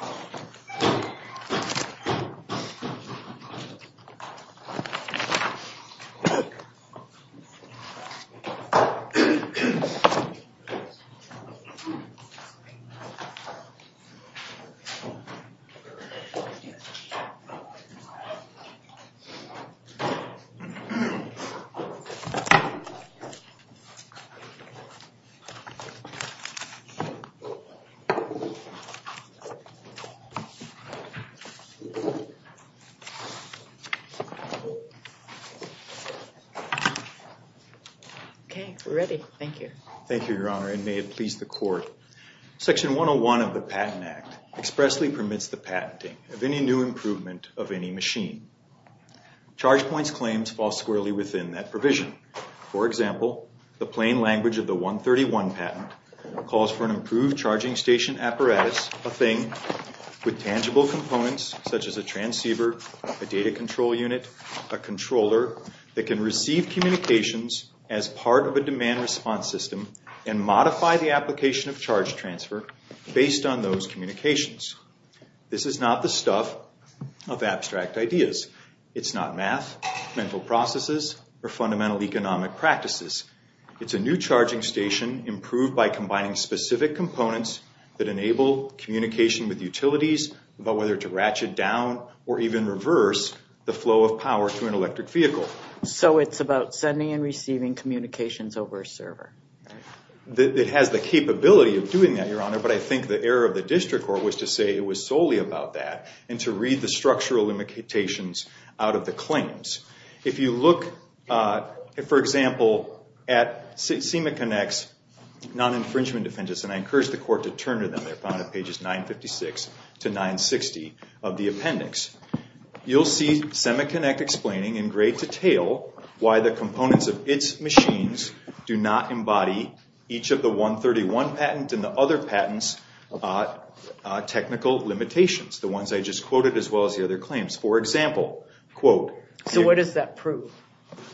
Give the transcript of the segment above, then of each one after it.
v. SemaConnect, Inc. Section 101 of the Patent Act expressly permits the patenting of any new improvement of any machine. ChargePoint's claims fall squarely within that provision. For example, the plain components such as a transceiver, a data control unit, a controller that can receive communications as part of a demand response system and modify the application of charge transfer based on those communications. This is not the stuff of abstract ideas. It's not math, mental processes, or fundamental economic practices. It's a new charging station improved by combining specific components that enable communication with utilities about whether to ratchet down or even reverse the flow of power to an electric vehicle. So it's about sending and receiving communications over a server? It has the capability of doing that, Your Honor, but I think the error of the district court was to say it was solely about that and to read the structural limitations out of the claims. If you look, for example, at SemaConnect's Non-Infringement Defendants, and I encourage the court to turn to them, they're found on pages 956 to 960 of the appendix, you'll see SemaConnect explaining in great detail why the components of its machines do not embody each of the 131 patent and the other patents technical limitations, the ones I just quoted, as well as the other claims. For example, quote... So what does that prove?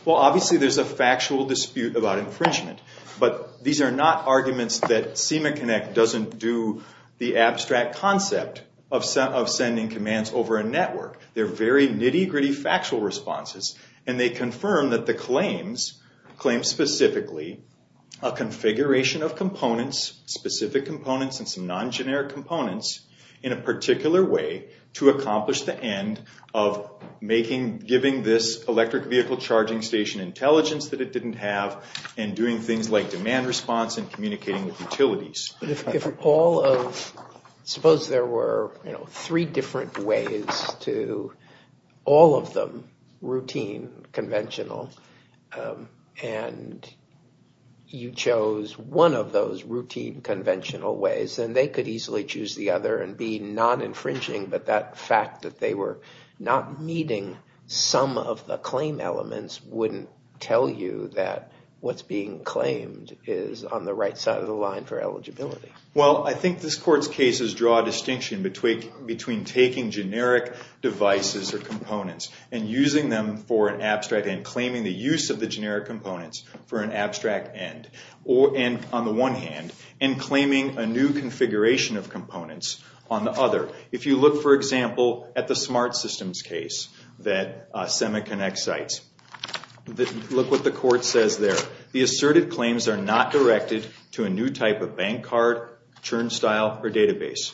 Well, obviously there's a factual dispute about infringement, but these are not arguments that SemaConnect doesn't do the abstract concept of sending commands over a network. They're very nitty-gritty factual responses, and they confirm that the claims claim specifically a configuration of components, specific components and some non-generic components, in a particular way to accomplish the end of making, giving this electric vehicle charging station intelligence that it didn't have, and doing things like demand response and communicating with utilities. But if all of, suppose there were three different ways to, all of them, routine, conventional, and you chose one of those routine, conventional ways, then they could easily choose the other and be non-infringing, but that fact that they were not meeting some of the claim elements wouldn't tell you that what's being claimed is on the right side of the line for eligibility. Well, I think this court's cases draw a distinction between taking generic devices or components and using them for an abstract end, claiming the use of the generic components for an abstract end, and on the one hand, and claiming a new configuration of components on the other. If you look, for example, at the smart systems case that SemaConnect cites, look what the court says there. The asserted claims are not directed to a new type of bank card, churn style or database,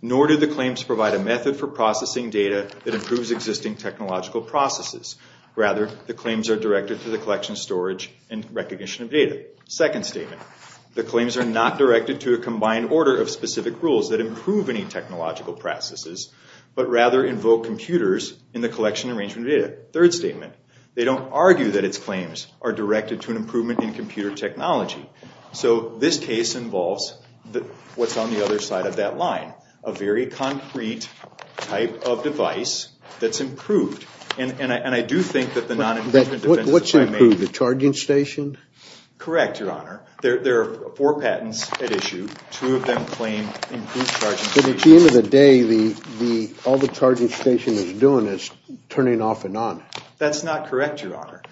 nor do the claims provide a method for processing data that improves existing technological processes. Rather, the claims are directed to the collection of storage and recognition of data. Second statement, the claims are not directed to a combined order of specific rules that improve any technological processes, but rather invoke computers in the collection and arrangement of data. Third statement, they don't argue that its claims are directed to an improvement in computer technology. So this case involves what's on the other side of that line, a very concrete type of device that's improved. And I do think that the non-improvement... What's improved? The charging station? Correct, Your Honor. There are four patents at issue. Two of them claim improved charging stations. But at the end of the day, all the charging station is doing is turning off and on. That's not correct, Your Honor.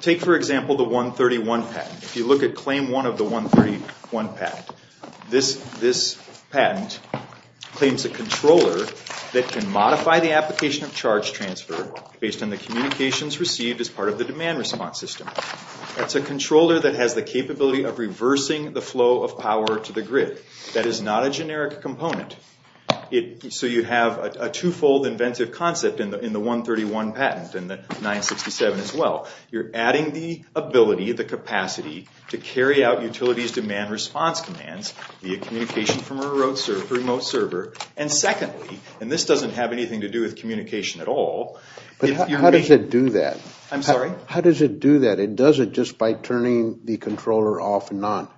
Take, for example, the 131 patent. If you look at claim one of the 131 patent, this patent claims a controller that can modify the application of charge transfer based on the communications received as part of the demand response system. That's a controller that has the capability of reversing the flow of power to the grid. That is not a generic component. So you have a twofold inventive concept in the 131 patent and the 967 as well. You're adding the ability, the capacity to carry out utilities demand response commands via communication from a remote server. And secondly, and this doesn't have anything to do with communication at all... But how does it do that? I'm sorry? How does it do that? It does it just by turning the controller off and on.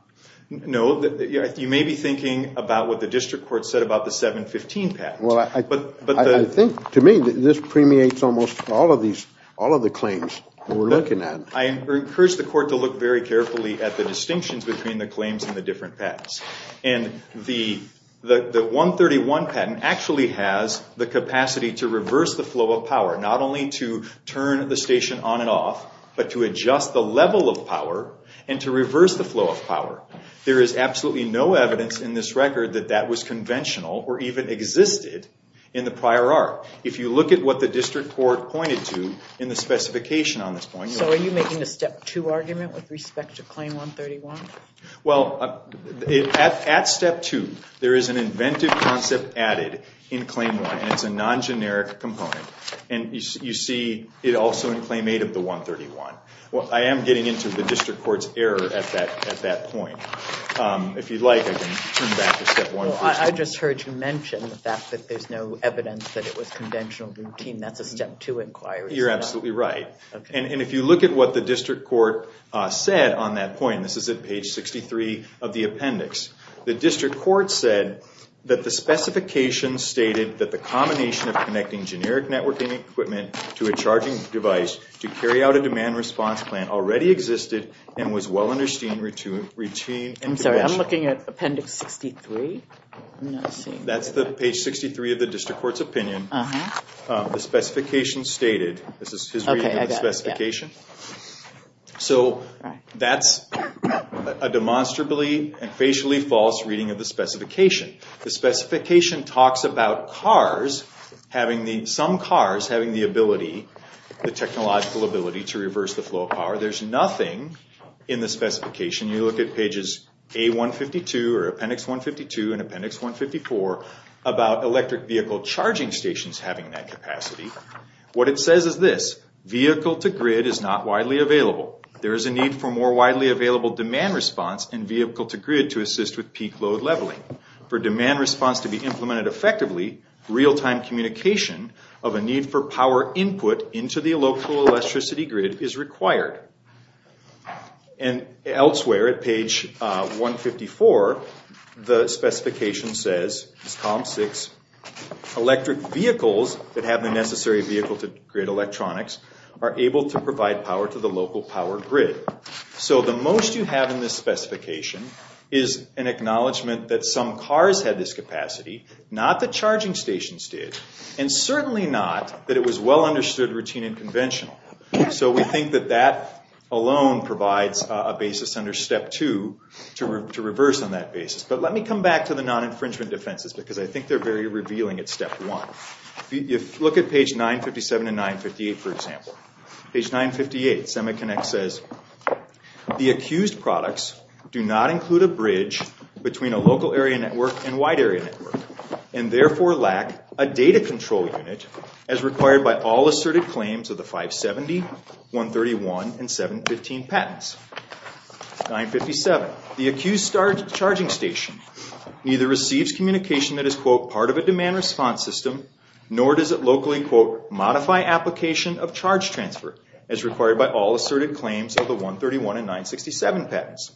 No, you may be thinking about what the district court said about the 715 patent. Well, I think, to me, this permeates almost all of these, all of the claims we're looking at. I encourage the court to look very carefully at the distinctions between the claims and the different patents. And the 131 patent actually has the capacity to reverse the flow of power, not only to turn the station on and off, but to adjust the level of power and to reverse the flow of power. There is absolutely no evidence in this record that that was conventional or even existed in the prior art. If you look at what the district court pointed to in the specification on this point... So are you making a step two argument with respect to claim 131? Well, at step two, there is an inventive concept added in claim one, and it's a non-generic component. And you see it also in claim eight of the 131. Well, I am getting into the district court's error at that point. If you'd like, I can turn back to step one. Well, I just heard you mention the fact that there's no evidence that it was conventional routine. That's a step two inquiry. You're absolutely right. And if you look at what the district court said on that point, and this is at page 63 of the appendix, the district court said that the specification stated that the combination of connecting generic networking equipment to a charging device to carry out a demand response plan already existed and was well understood routine and conventional. I'm sorry. I'm looking at appendix 63. That's the page 63 of the district court's opinion. The specification stated... This is his reading of the specification. So that's a demonstrably and facially false reading of the specification. The specification talks about cars, some cars having the ability, the technological ability to reverse the flow of power. There's nothing in the specification. You look at pages A152 or appendix 152 and appendix 154 about electric vehicle charging stations having that capacity. What it says is this, vehicle-to-grid is not widely available. There is a need for more widely available demand response and vehicle-to-grid to assist with peak load leveling. For demand response to be implemented effectively, real-time communication of a need for power input into the local electricity grid is required. And elsewhere at page 154, the specification says, it's column 6, electric vehicles that have the necessary vehicle-to-grid electronics are able to provide power to the local power grid. So the most you have in this specification is an acknowledgement that some cars had this capacity, not the charging stations did, and certainly not that it was well understood routine and conventional. So we think that that alone provides a basis under step 2 to reverse on that basis. But let me come back to the non-infringement defenses because I think they're very revealing at step 1. If you look at page 957 and 958, for example. Page 958, Semiconnect says, the accused products do not include a bridge between a local area network and wide area network, and therefore lack a data control unit as required by all 970, 131, and 715 patents. 957, the accused charging station neither receives communication that is, quote, part of a demand response system, nor does it locally, quote, modify application of charge transfer as required by all asserted claims of the 131 and 967 patents.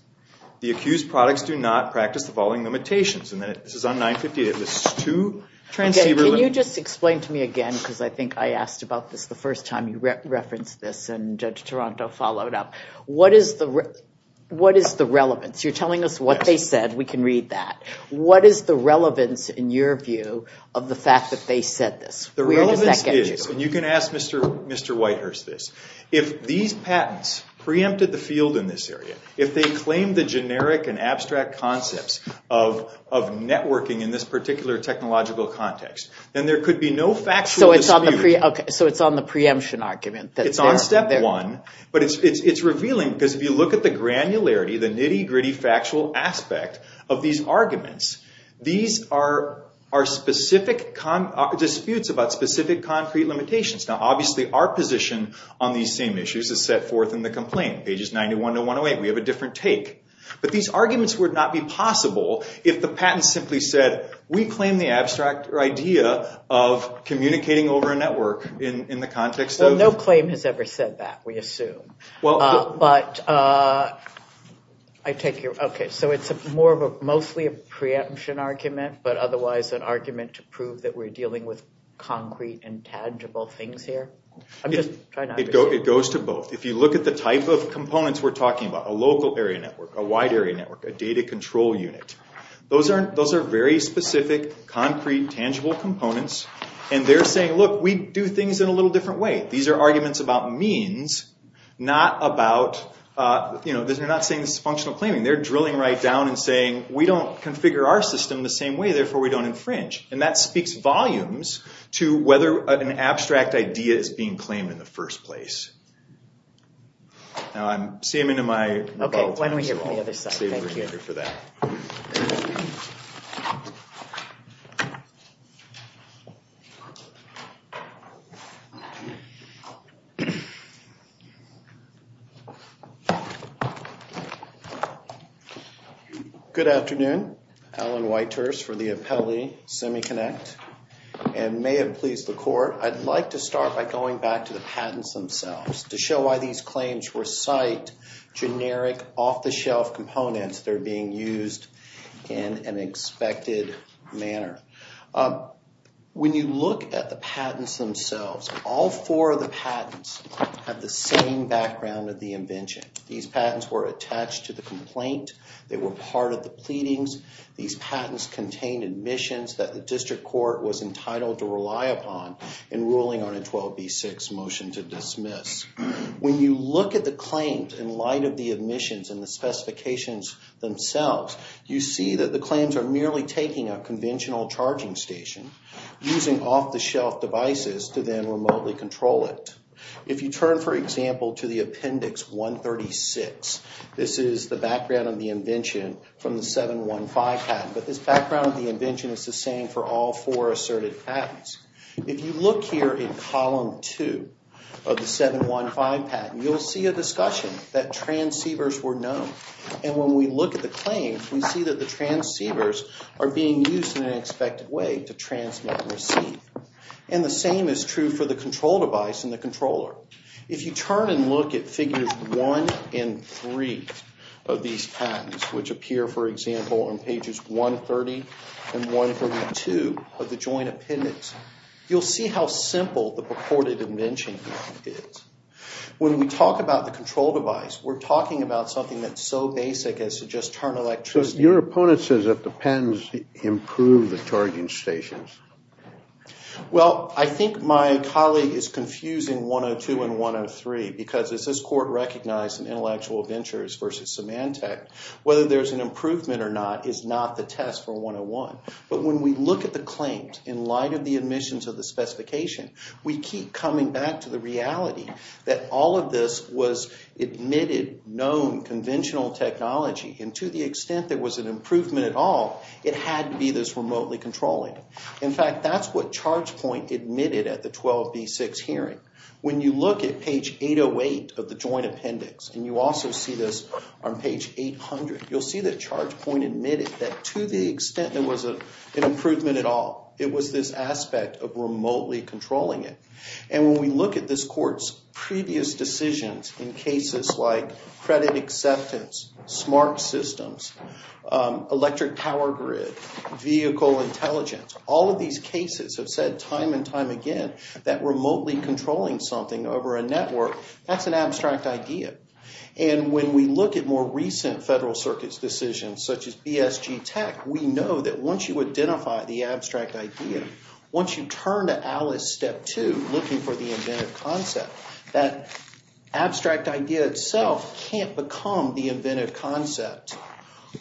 The accused products do not practice the following limitations. And this is on 958. It lists two transceiver limits. Can you just explain to me again, because I think I asked about this the first time you referenced this and Judge Toronto followed up. What is the relevance? You're telling us what they said. We can read that. What is the relevance, in your view, of the fact that they said this? Where does that get you? The relevance is, and you can ask Mr. Whitehurst this. If these patents preempted the field in this area, if they claimed the generic and abstract concepts of networking in this particular technological context, then there could be no factual dispute. So it's on the preemption argument. It's on step one, but it's revealing because if you look at the granularity, the nitty-gritty factual aspect of these arguments, these are specific disputes about specific concrete limitations. Now, obviously, our position on these same issues is set forth in the complaint, pages 91 to 108. We have a different take. But these arguments would not be possible if the patent simply said, we claim the abstract idea of communicating over a network in the context of... Well, no claim has ever said that, we assume. But I take your... Okay, so it's mostly a preemption argument, but otherwise an argument to prove that we're dealing with concrete and tangible things here? I'm just trying to understand. It goes to both. If you look at the type of components we're talking about, a local area network, a wide area network, a data control unit, those are very specific, concrete, tangible components. And they're saying, look, we do things in a little different way. These are arguments about means, not about... They're not saying this is functional claiming. They're drilling right down and saying, we don't configure our system the same way, therefore we don't infringe. And that speaks volumes to whether an abstract idea is being claimed in the first place. Now, I'm... Same into my... Okay, why don't we hear from the other side? Thank you. Same over here for that. Okay. Good afternoon. Alan Whitehurst for the Apelli Semiconnect. And may it please the court, I'd like to start by going back to the patents themselves to show why these claims were psyched, generic, off-the-shelf components that are being used in an expected manner. When you look at the patents themselves, all four of the patents have the same background of the invention. These patents were attached to the complaint. They were part of the pleadings. These patents contained admissions that the district court was entitled to rely upon in When you look at the claims in light of the admissions and the specifications themselves, you see that the claims are merely taking a conventional charging station, using off-the-shelf devices to then remotely control it. If you turn, for example, to the Appendix 136, this is the background of the invention from the 715 patent. But this background of the invention is the same for all four asserted patents. If you look here in Column 2 of the 715 patent, you'll see a discussion that transceivers were known. And when we look at the claims, we see that the transceivers are being used in an expected way to transmit and receive. And the same is true for the control device and the controller. If you turn and look at Figures 1 and 3 of these patents, which appear, for example, on Pages 130 and 132 of the Joint Appendix, you'll see how simple the purported invention is. When we talk about the control device, we're talking about something that's so basic as to just turn electricity. So your opponent says that the pens improve the charging stations. Well, I think my colleague is confusing 102 and 103, because as this court recognized in Intellectual Ventures v. Symantec, whether there's an improvement or not is not the test for 101. But when we look at the claims in light of the admissions of the specification, we keep coming back to the reality that all of this was admitted, known, conventional technology. And to the extent there was an improvement at all, it had to be this remotely controlling. In fact, that's what ChargePoint admitted at the 12B6 hearing. When you look at Page 808 of the Joint Appendix, and you also see this on Page 800, you'll see that ChargePoint admitted that to the extent there was an improvement at all, it was this aspect of remotely controlling it. And when we look at this court's previous decisions in cases like credit acceptance, smart systems, electric power grid, vehicle intelligence, all of these cases have said time and time again that remotely controlling something over a network, that's an abstract idea. And when we look at more recent Federal Circuit's decisions, such as BSG Tech, we know that once you identify the abstract idea, once you turn to Alice Step 2, looking for the inventive concept, that abstract idea itself can't become the inventive concept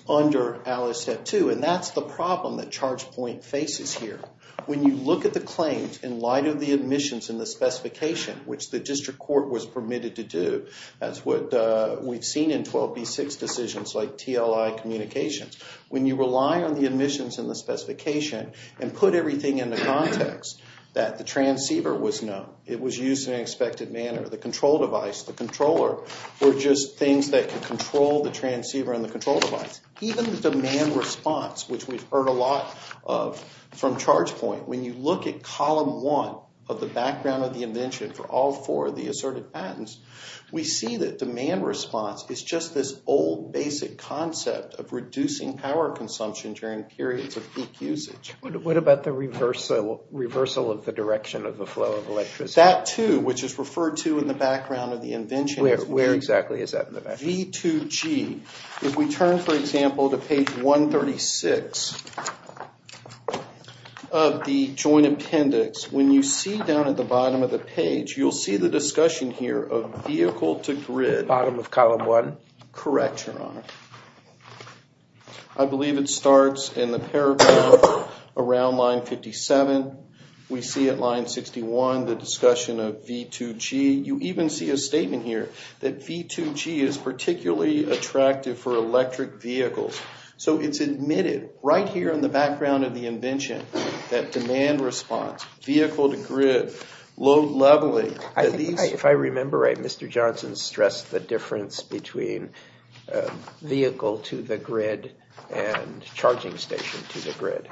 under Alice Step 2. And that's the problem that ChargePoint faces here. When you look at the claims in light of the admissions and the specification, which the District Court was permitted to do, that's what we've seen in 12B6 decisions like TLI communications. When you rely on the admissions and the specification and put everything in the context that the transceiver was known, it was used in an expected manner, the control device, the controller were just things that could control the transceiver and the control device. Even the demand response, which we've heard a lot of from ChargePoint, when you look at column one of the background of the invention for all four of the asserted patents, we see that demand response is just this old basic concept of reducing power consumption during periods of peak usage. What about the reversal of the direction of the flow of electricity? That too, which is referred to in the background of the invention. Where exactly is that in the background? V2G. If we turn, for example, to page 136 of the joint appendix, when you see down at the bottom of the page, you'll see the discussion here of vehicle to grid. Bottom of column one? Correct, Your Honor. I believe it starts in the paragraph around line 57. We see at line 61 the discussion of V2G. You even see a statement here that V2G is particularly attractive for electric vehicles. It's admitted right here in the background of the invention that demand response, vehicle to grid, load leveling. If I remember right, Mr. Johnson stressed the difference between vehicle to the grid and charging station to the grid.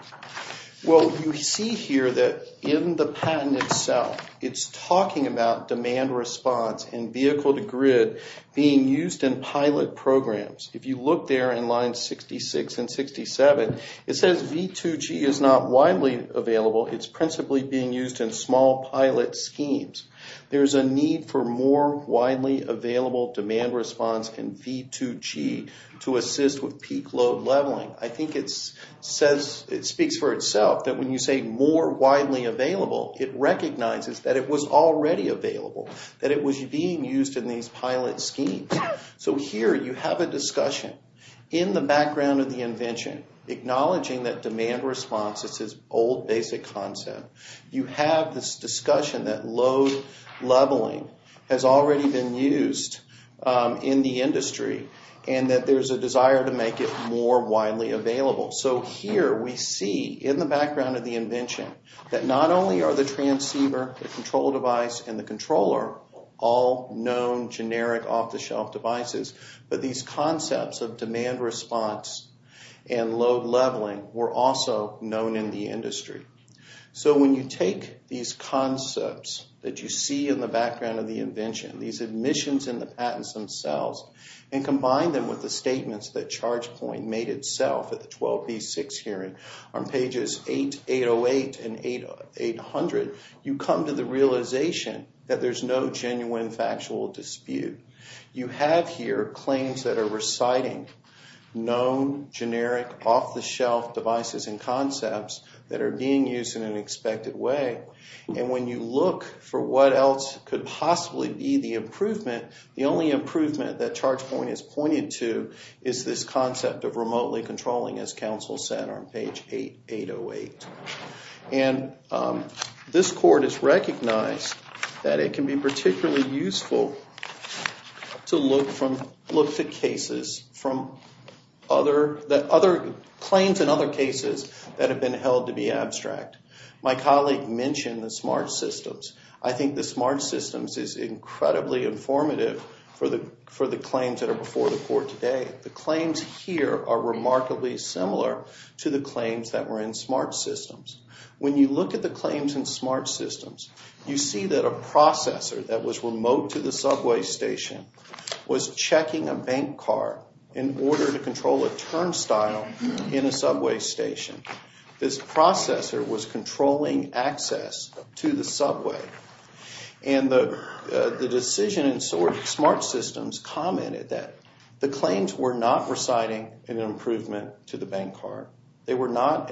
You see here that in the patent itself, it's talking about demand response and vehicle to grid being used in pilot programs. If you look there in line 66 and 67, it says V2G is not widely available. It's principally being used in small pilot schemes. There's a need for more widely available demand response in V2G to assist with peak load leveling. I think it speaks for itself that when you say more widely available, it recognizes that it was already available, that it was being used in these pilot schemes. Here, you have a discussion in the background of the invention acknowledging that demand response is this old basic concept. You have this discussion that load leveling has already been used in the industry and that there's a desire to make it more widely available. Here, we see in the background of the invention that not only are the transceiver, the control device, and the controller all known generic off-the-shelf devices, but these concepts of demand response and load leveling were also known in the industry. When you take these concepts that you see in the background of the invention, these admissions and the patents themselves, and combine them with the statements that ChargePoint made itself at the 12B6 hearing on pages 808 and 800, you come to the realization that there's no genuine factual dispute. You have here claims that are reciting known generic off-the-shelf devices and concepts that are being used in an expected way. When you look for what else could possibly be the improvement, the only improvement that ChargePoint has pointed to is this concept of remotely controlling, as counsel said on page 808. This court has recognized that it can be particularly useful to look for claims in other cases that have been held to be abstract. My colleague mentioned the smart systems. I think the smart systems is incredibly informative for the claims that are before the court today. The claims here are remarkably similar to the claims that were in smart systems. When you look at the claims in smart systems, you see that a processor that was remote to the subway station was checking a bank card in order to control a turnstile in a subway station. This processor was controlling access to the subway. The decision in smart systems commented that the claims were not reciting an improvement to the bank card. They were not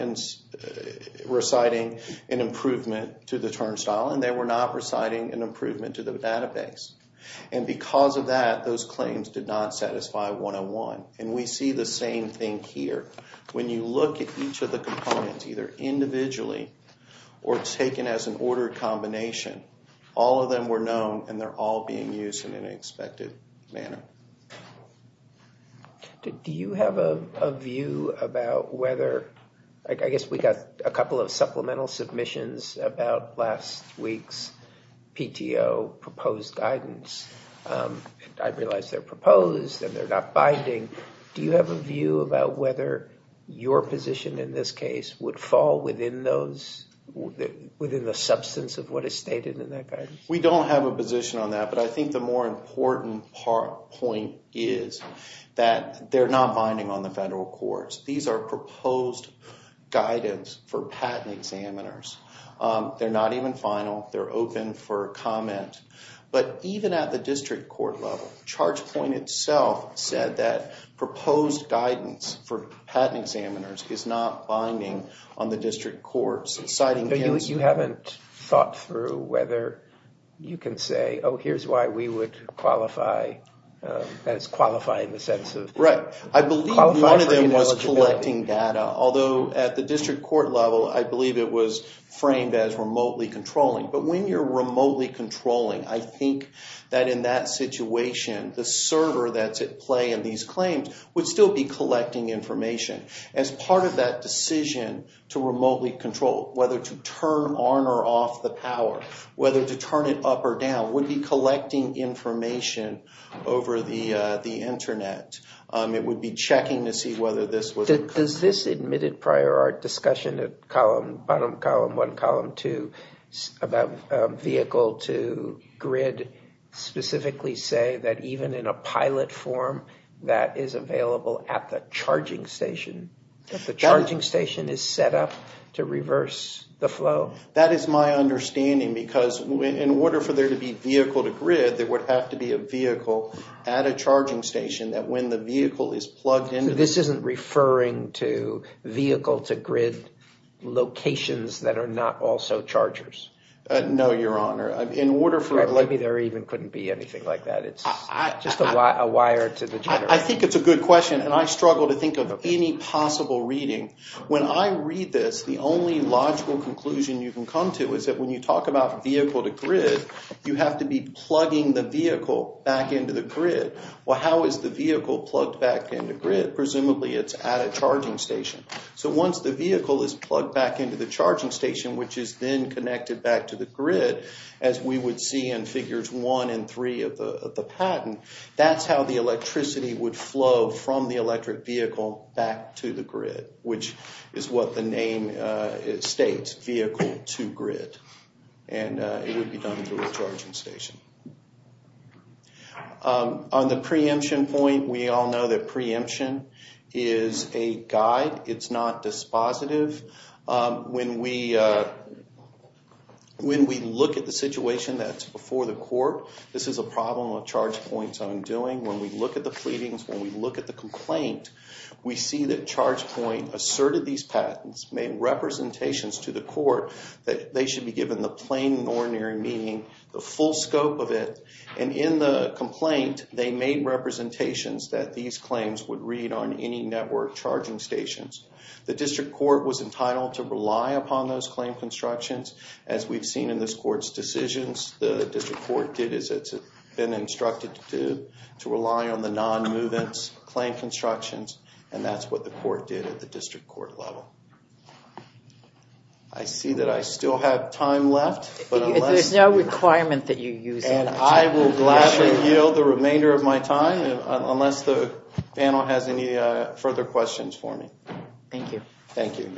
reciting an improvement to the turnstile, and they were not reciting an improvement to the database. Because of that, those claims did not satisfy 101. We see the same thing here. When you look at each of the components, either individually or taken as an ordered combination, all of them were known, and they're all being used in an expected manner. Do you have a view about whether... I guess we got a couple of supplemental submissions about last week's PTO proposed guidance. I realize they're proposed and they're not binding. Do you have a view about whether your position in this case would fall within the substance of what is stated in that guidance? We don't have a position on that, but I think the more important point is that they're not binding on the federal courts. These are proposed guidance for patent examiners. They're not even final. They're open for comment. But even at the district court level, ChargePoint itself said that proposed guidance for patent examiners is not binding on the district courts. You haven't thought through whether you can say, oh, here's why we would qualify. That's qualify in the sense of... Right. I believe one of them was collecting data, although at the district court level, I believe it was framed as remotely controlling. But when you're remotely controlling, I think that in that situation, the server that's at play in these claims would still be collecting information. As part of that decision to remotely control, whether to turn on or off the power, whether to turn it up or down, would be collecting information over the internet. It would be checking to see whether this was... Does this admitted prior art discussion at bottom column one, column two, about vehicle to grid, specifically say that even in a pilot form that is available at the charging station, that the charging station is set up to reverse the flow? That is my understanding because in order for there to be vehicle to grid, there would have to be a vehicle at a charging station that when the vehicle is plugged into... So this isn't referring to vehicle to grid locations that are not also chargers? No, Your Honor. In order for... Maybe there even couldn't be anything like that. It's just a wire to the generator. I think it's a good question, and I struggle to think of any possible reading. When I read this, the only logical conclusion you can come to is that when you talk about vehicle to grid, you have to be plugging the vehicle back into the grid. Well, how is the vehicle plugged back into grid? Presumably it's at a charging station. So once the vehicle is plugged back into the charging station, which is then connected back to the grid as we would see in figures one and three of the patent, that's how the electricity would flow from the electric vehicle back to the grid, which is what the name states, vehicle to grid. And it would be done through a charging station. On the preemption point, we all know that preemption is a guide. It's not dispositive. When we look at the situation that's before the court, this is a problem of ChargePoint's own doing. When we look at the pleadings, when we look at the complaint, we see that ChargePoint asserted these patents, made representations to the court that they should be given the plain and ordinary meaning, the full scope of it, and in the complaint, they made representations that these claims would read on any network charging stations. The district court was entitled to rely upon those claim constructions. As we've seen in this court's decisions, the district court did as it's been instructed to do, to rely on the non-movements claim constructions, and that's what the court did at the district court level. I see that I still have time left. There's no requirement that you use it. And I will gladly yield the remainder of my time unless the panel has any further questions for me. Thank you. Thank you.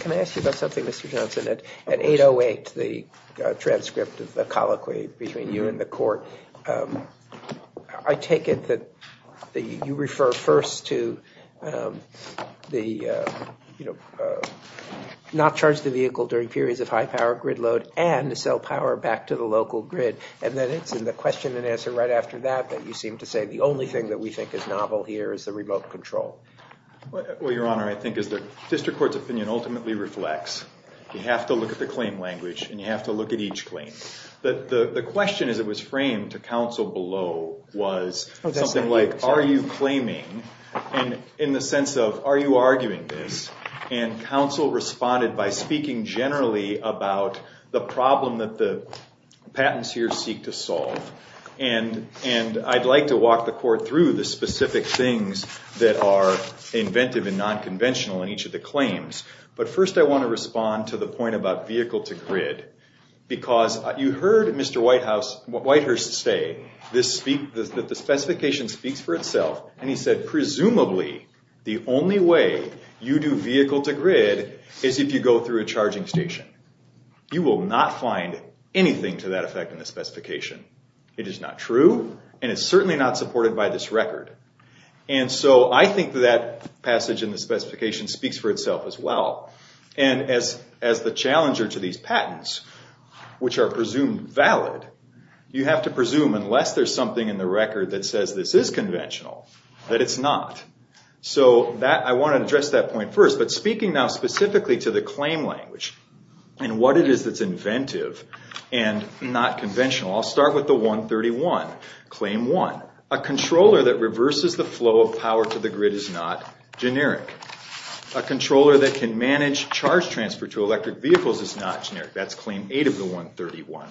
Can I ask you about something, Mr. Johnson? At 808, the transcript of the colloquy between you and the court, I take it that you refer first to not charge the vehicle during periods of high power grid load and to sell power back to the local grid, and then it's in the question and answer right after that that you seem to say the only thing that we think is novel here is the remote control. Well, Your Honor, I think the district court's opinion ultimately reflects you have to look at the claim language and you have to look at each claim. The question as it was framed to counsel below was something like, are you claiming in the sense of are you arguing this? And counsel responded by speaking generally about the problem that the patenteers seek to solve. And I'd like to walk the court through the specific things that are inventive and non-conventional in each of the claims. But first I want to respond to the point about vehicle to grid, because you heard Mr. Whitehurst say that the specification speaks for itself, and he said presumably the only way you do vehicle to grid is if you go through a charging station. You will not find anything to that effect in the specification. It is not true, and it's certainly not supported by this record. And so I think that passage in the specification speaks for itself as well. And as the challenger to these patents, which are presumed valid, you have to presume unless there's something in the record that says this is conventional, that it's not. So I want to address that point first. But speaking now specifically to the claim language and what it is that's inventive and not conventional, I'll start with the 131, Claim 1. A controller that reverses the flow of power to the grid is not generic. A controller that can manage charge transfer to electric vehicles is not generic. That's Claim 8 of the 131.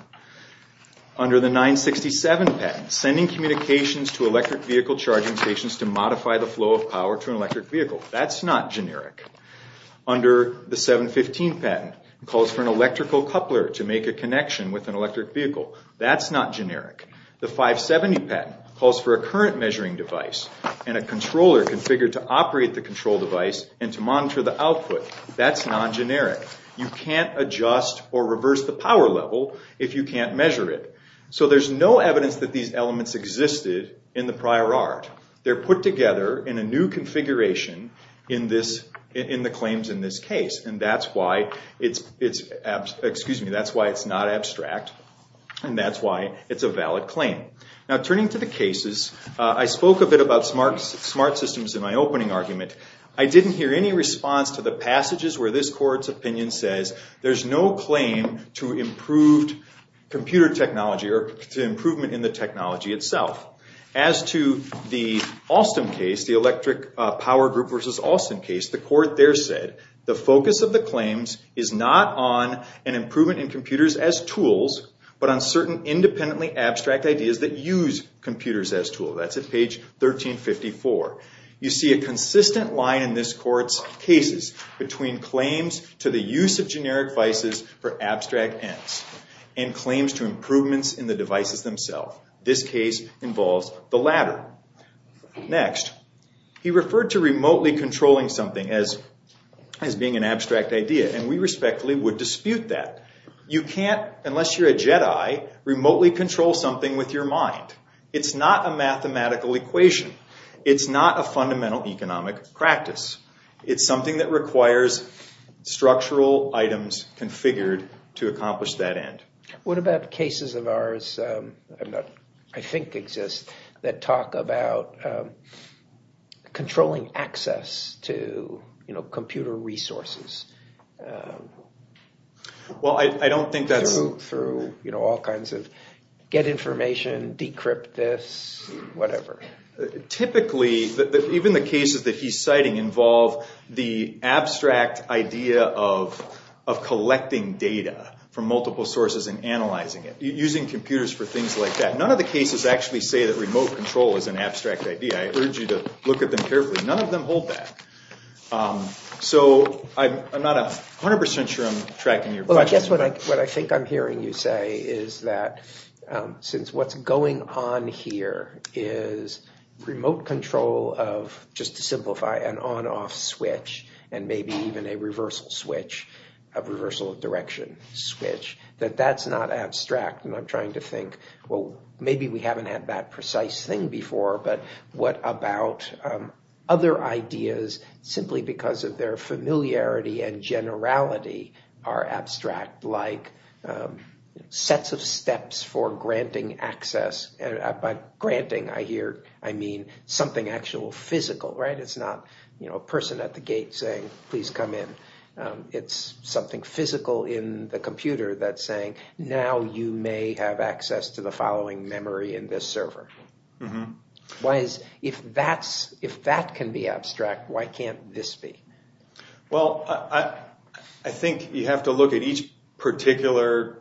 Under the 967 patent, sending communications to electric vehicle charging stations to modify the flow of power to an electric vehicle, that's not generic. Under the 715 patent, calls for an electrical coupler to make a connection with an electric vehicle. That's not generic. The 570 patent calls for a current measuring device and a controller configured to operate the control device and to monitor the output. That's non-generic. You can't adjust or reverse the power level if you can't measure it. So there's no evidence that these elements existed in the prior art. They're put together in a new configuration in the claims in this case, and that's why it's not abstract, and that's why it's a valid claim. Now turning to the cases, I spoke a bit about smart systems in my opening argument. I didn't hear any response to the passages where this court's opinion says there's no claim to improved computer technology or to improvement in the technology itself. As to the Alstom case, the electric power group versus Alstom case, the court there said the focus of the claims is not on an improvement in computers as tools but on certain independently abstract ideas that use computers as tools. That's at page 1354. You see a consistent line in this court's cases between claims to the use of generic devices for abstract ends and claims to improvements in the devices themselves. This case involves the latter. Next, he referred to remotely controlling something as being an abstract idea, and we respectfully would dispute that. You can't, unless you're a Jedi, remotely control something with your mind. It's not a mathematical equation. It's not a fundamental economic practice. It's something that requires structural items configured to accomplish that end. What about cases of ours, I think exist, that talk about controlling access to computer resources? Well, I don't think that's... Through all kinds of get information, decrypt this, whatever. Typically, even the cases that he's citing involve the abstract idea of collecting data from multiple sources and analyzing it, using computers for things like that. None of the cases actually say that remote control is an abstract idea. I urge you to look at them carefully. None of them hold that. So I'm not 100% sure I'm tracking your question. Well, I guess what I think I'm hearing you say is that since what's going on here is remote control of, just to simplify, an on-off switch, and maybe even a reversal switch, a reversal of direction switch, that that's not abstract. And I'm trying to think, well, maybe we haven't had that precise thing before, but what about other ideas, simply because of their familiarity and generality, are abstract, like sets of steps for granting access? By granting, I mean something actual physical, right? A person at the gate saying, please come in. It's something physical in the computer that's saying, now you may have access to the following memory in this server. If that can be abstract, why can't this be? Well, I think you have to look at each particular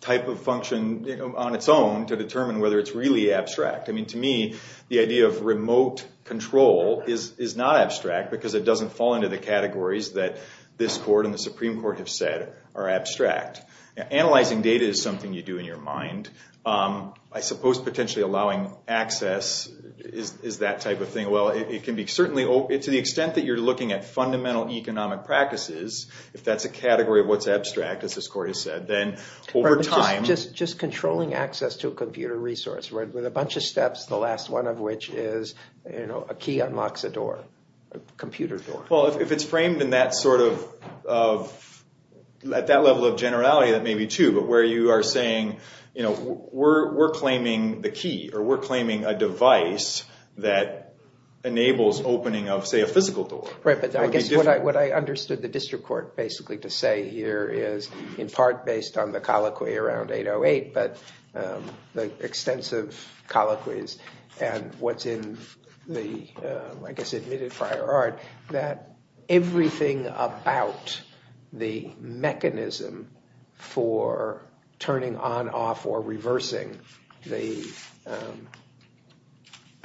type of function on its own to determine whether it's really abstract. I mean, to me, the idea of remote control is not abstract because it doesn't fall into the categories that this court and the Supreme Court have said are abstract. Analyzing data is something you do in your mind. I suppose potentially allowing access is that type of thing. Well, to the extent that you're looking at fundamental economic practices, if that's a category of what's abstract, as this court has said, then over time... Just controlling access to a computer resource with a bunch of steps, the last one of which is a key unlocks a door, a computer door. Well, if it's framed at that level of generality, that may be true, but where you are saying, we're claiming the key or we're claiming a device that enables opening of, say, a physical door. Right, but I guess what I understood the district court basically to say here is in part based on the colloquy around 808, but the extensive colloquies and what's in the, I guess, admitted prior art, that everything about the mechanism for turning on, off, or reversing the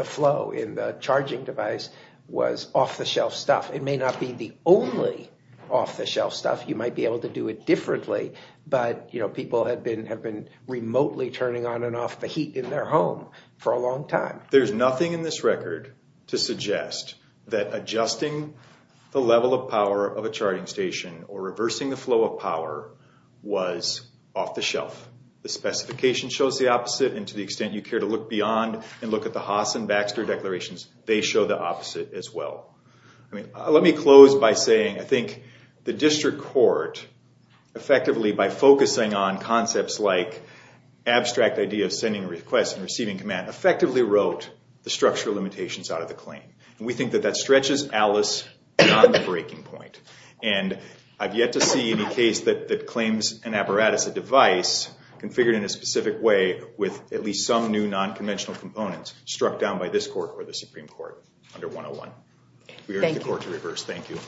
flow in the charging device was off-the-shelf stuff. It may not be the only off-the-shelf stuff. You might be able to do it differently, but people have been remotely turning on and off the heat in their home for a long time. There's nothing in this record to suggest that adjusting the level of power of a charging station or reversing the flow of power was off-the-shelf. The specification shows the opposite, and to the extent you care to look beyond and look at the Haas and Baxter declarations, they show the opposite as well. Let me close by saying I think the district court, effectively by focusing on concepts like abstract ideas, sending requests, and receiving command, effectively wrote the structural limitations out of the claim. We think that that stretches ALICE beyond the breaking point. I've yet to see any case that claims an apparatus, a device, configured in a specific way with at least some new non-conventional components struck down by this court or the Supreme Court under 101. We urge the court to reverse. Thank you.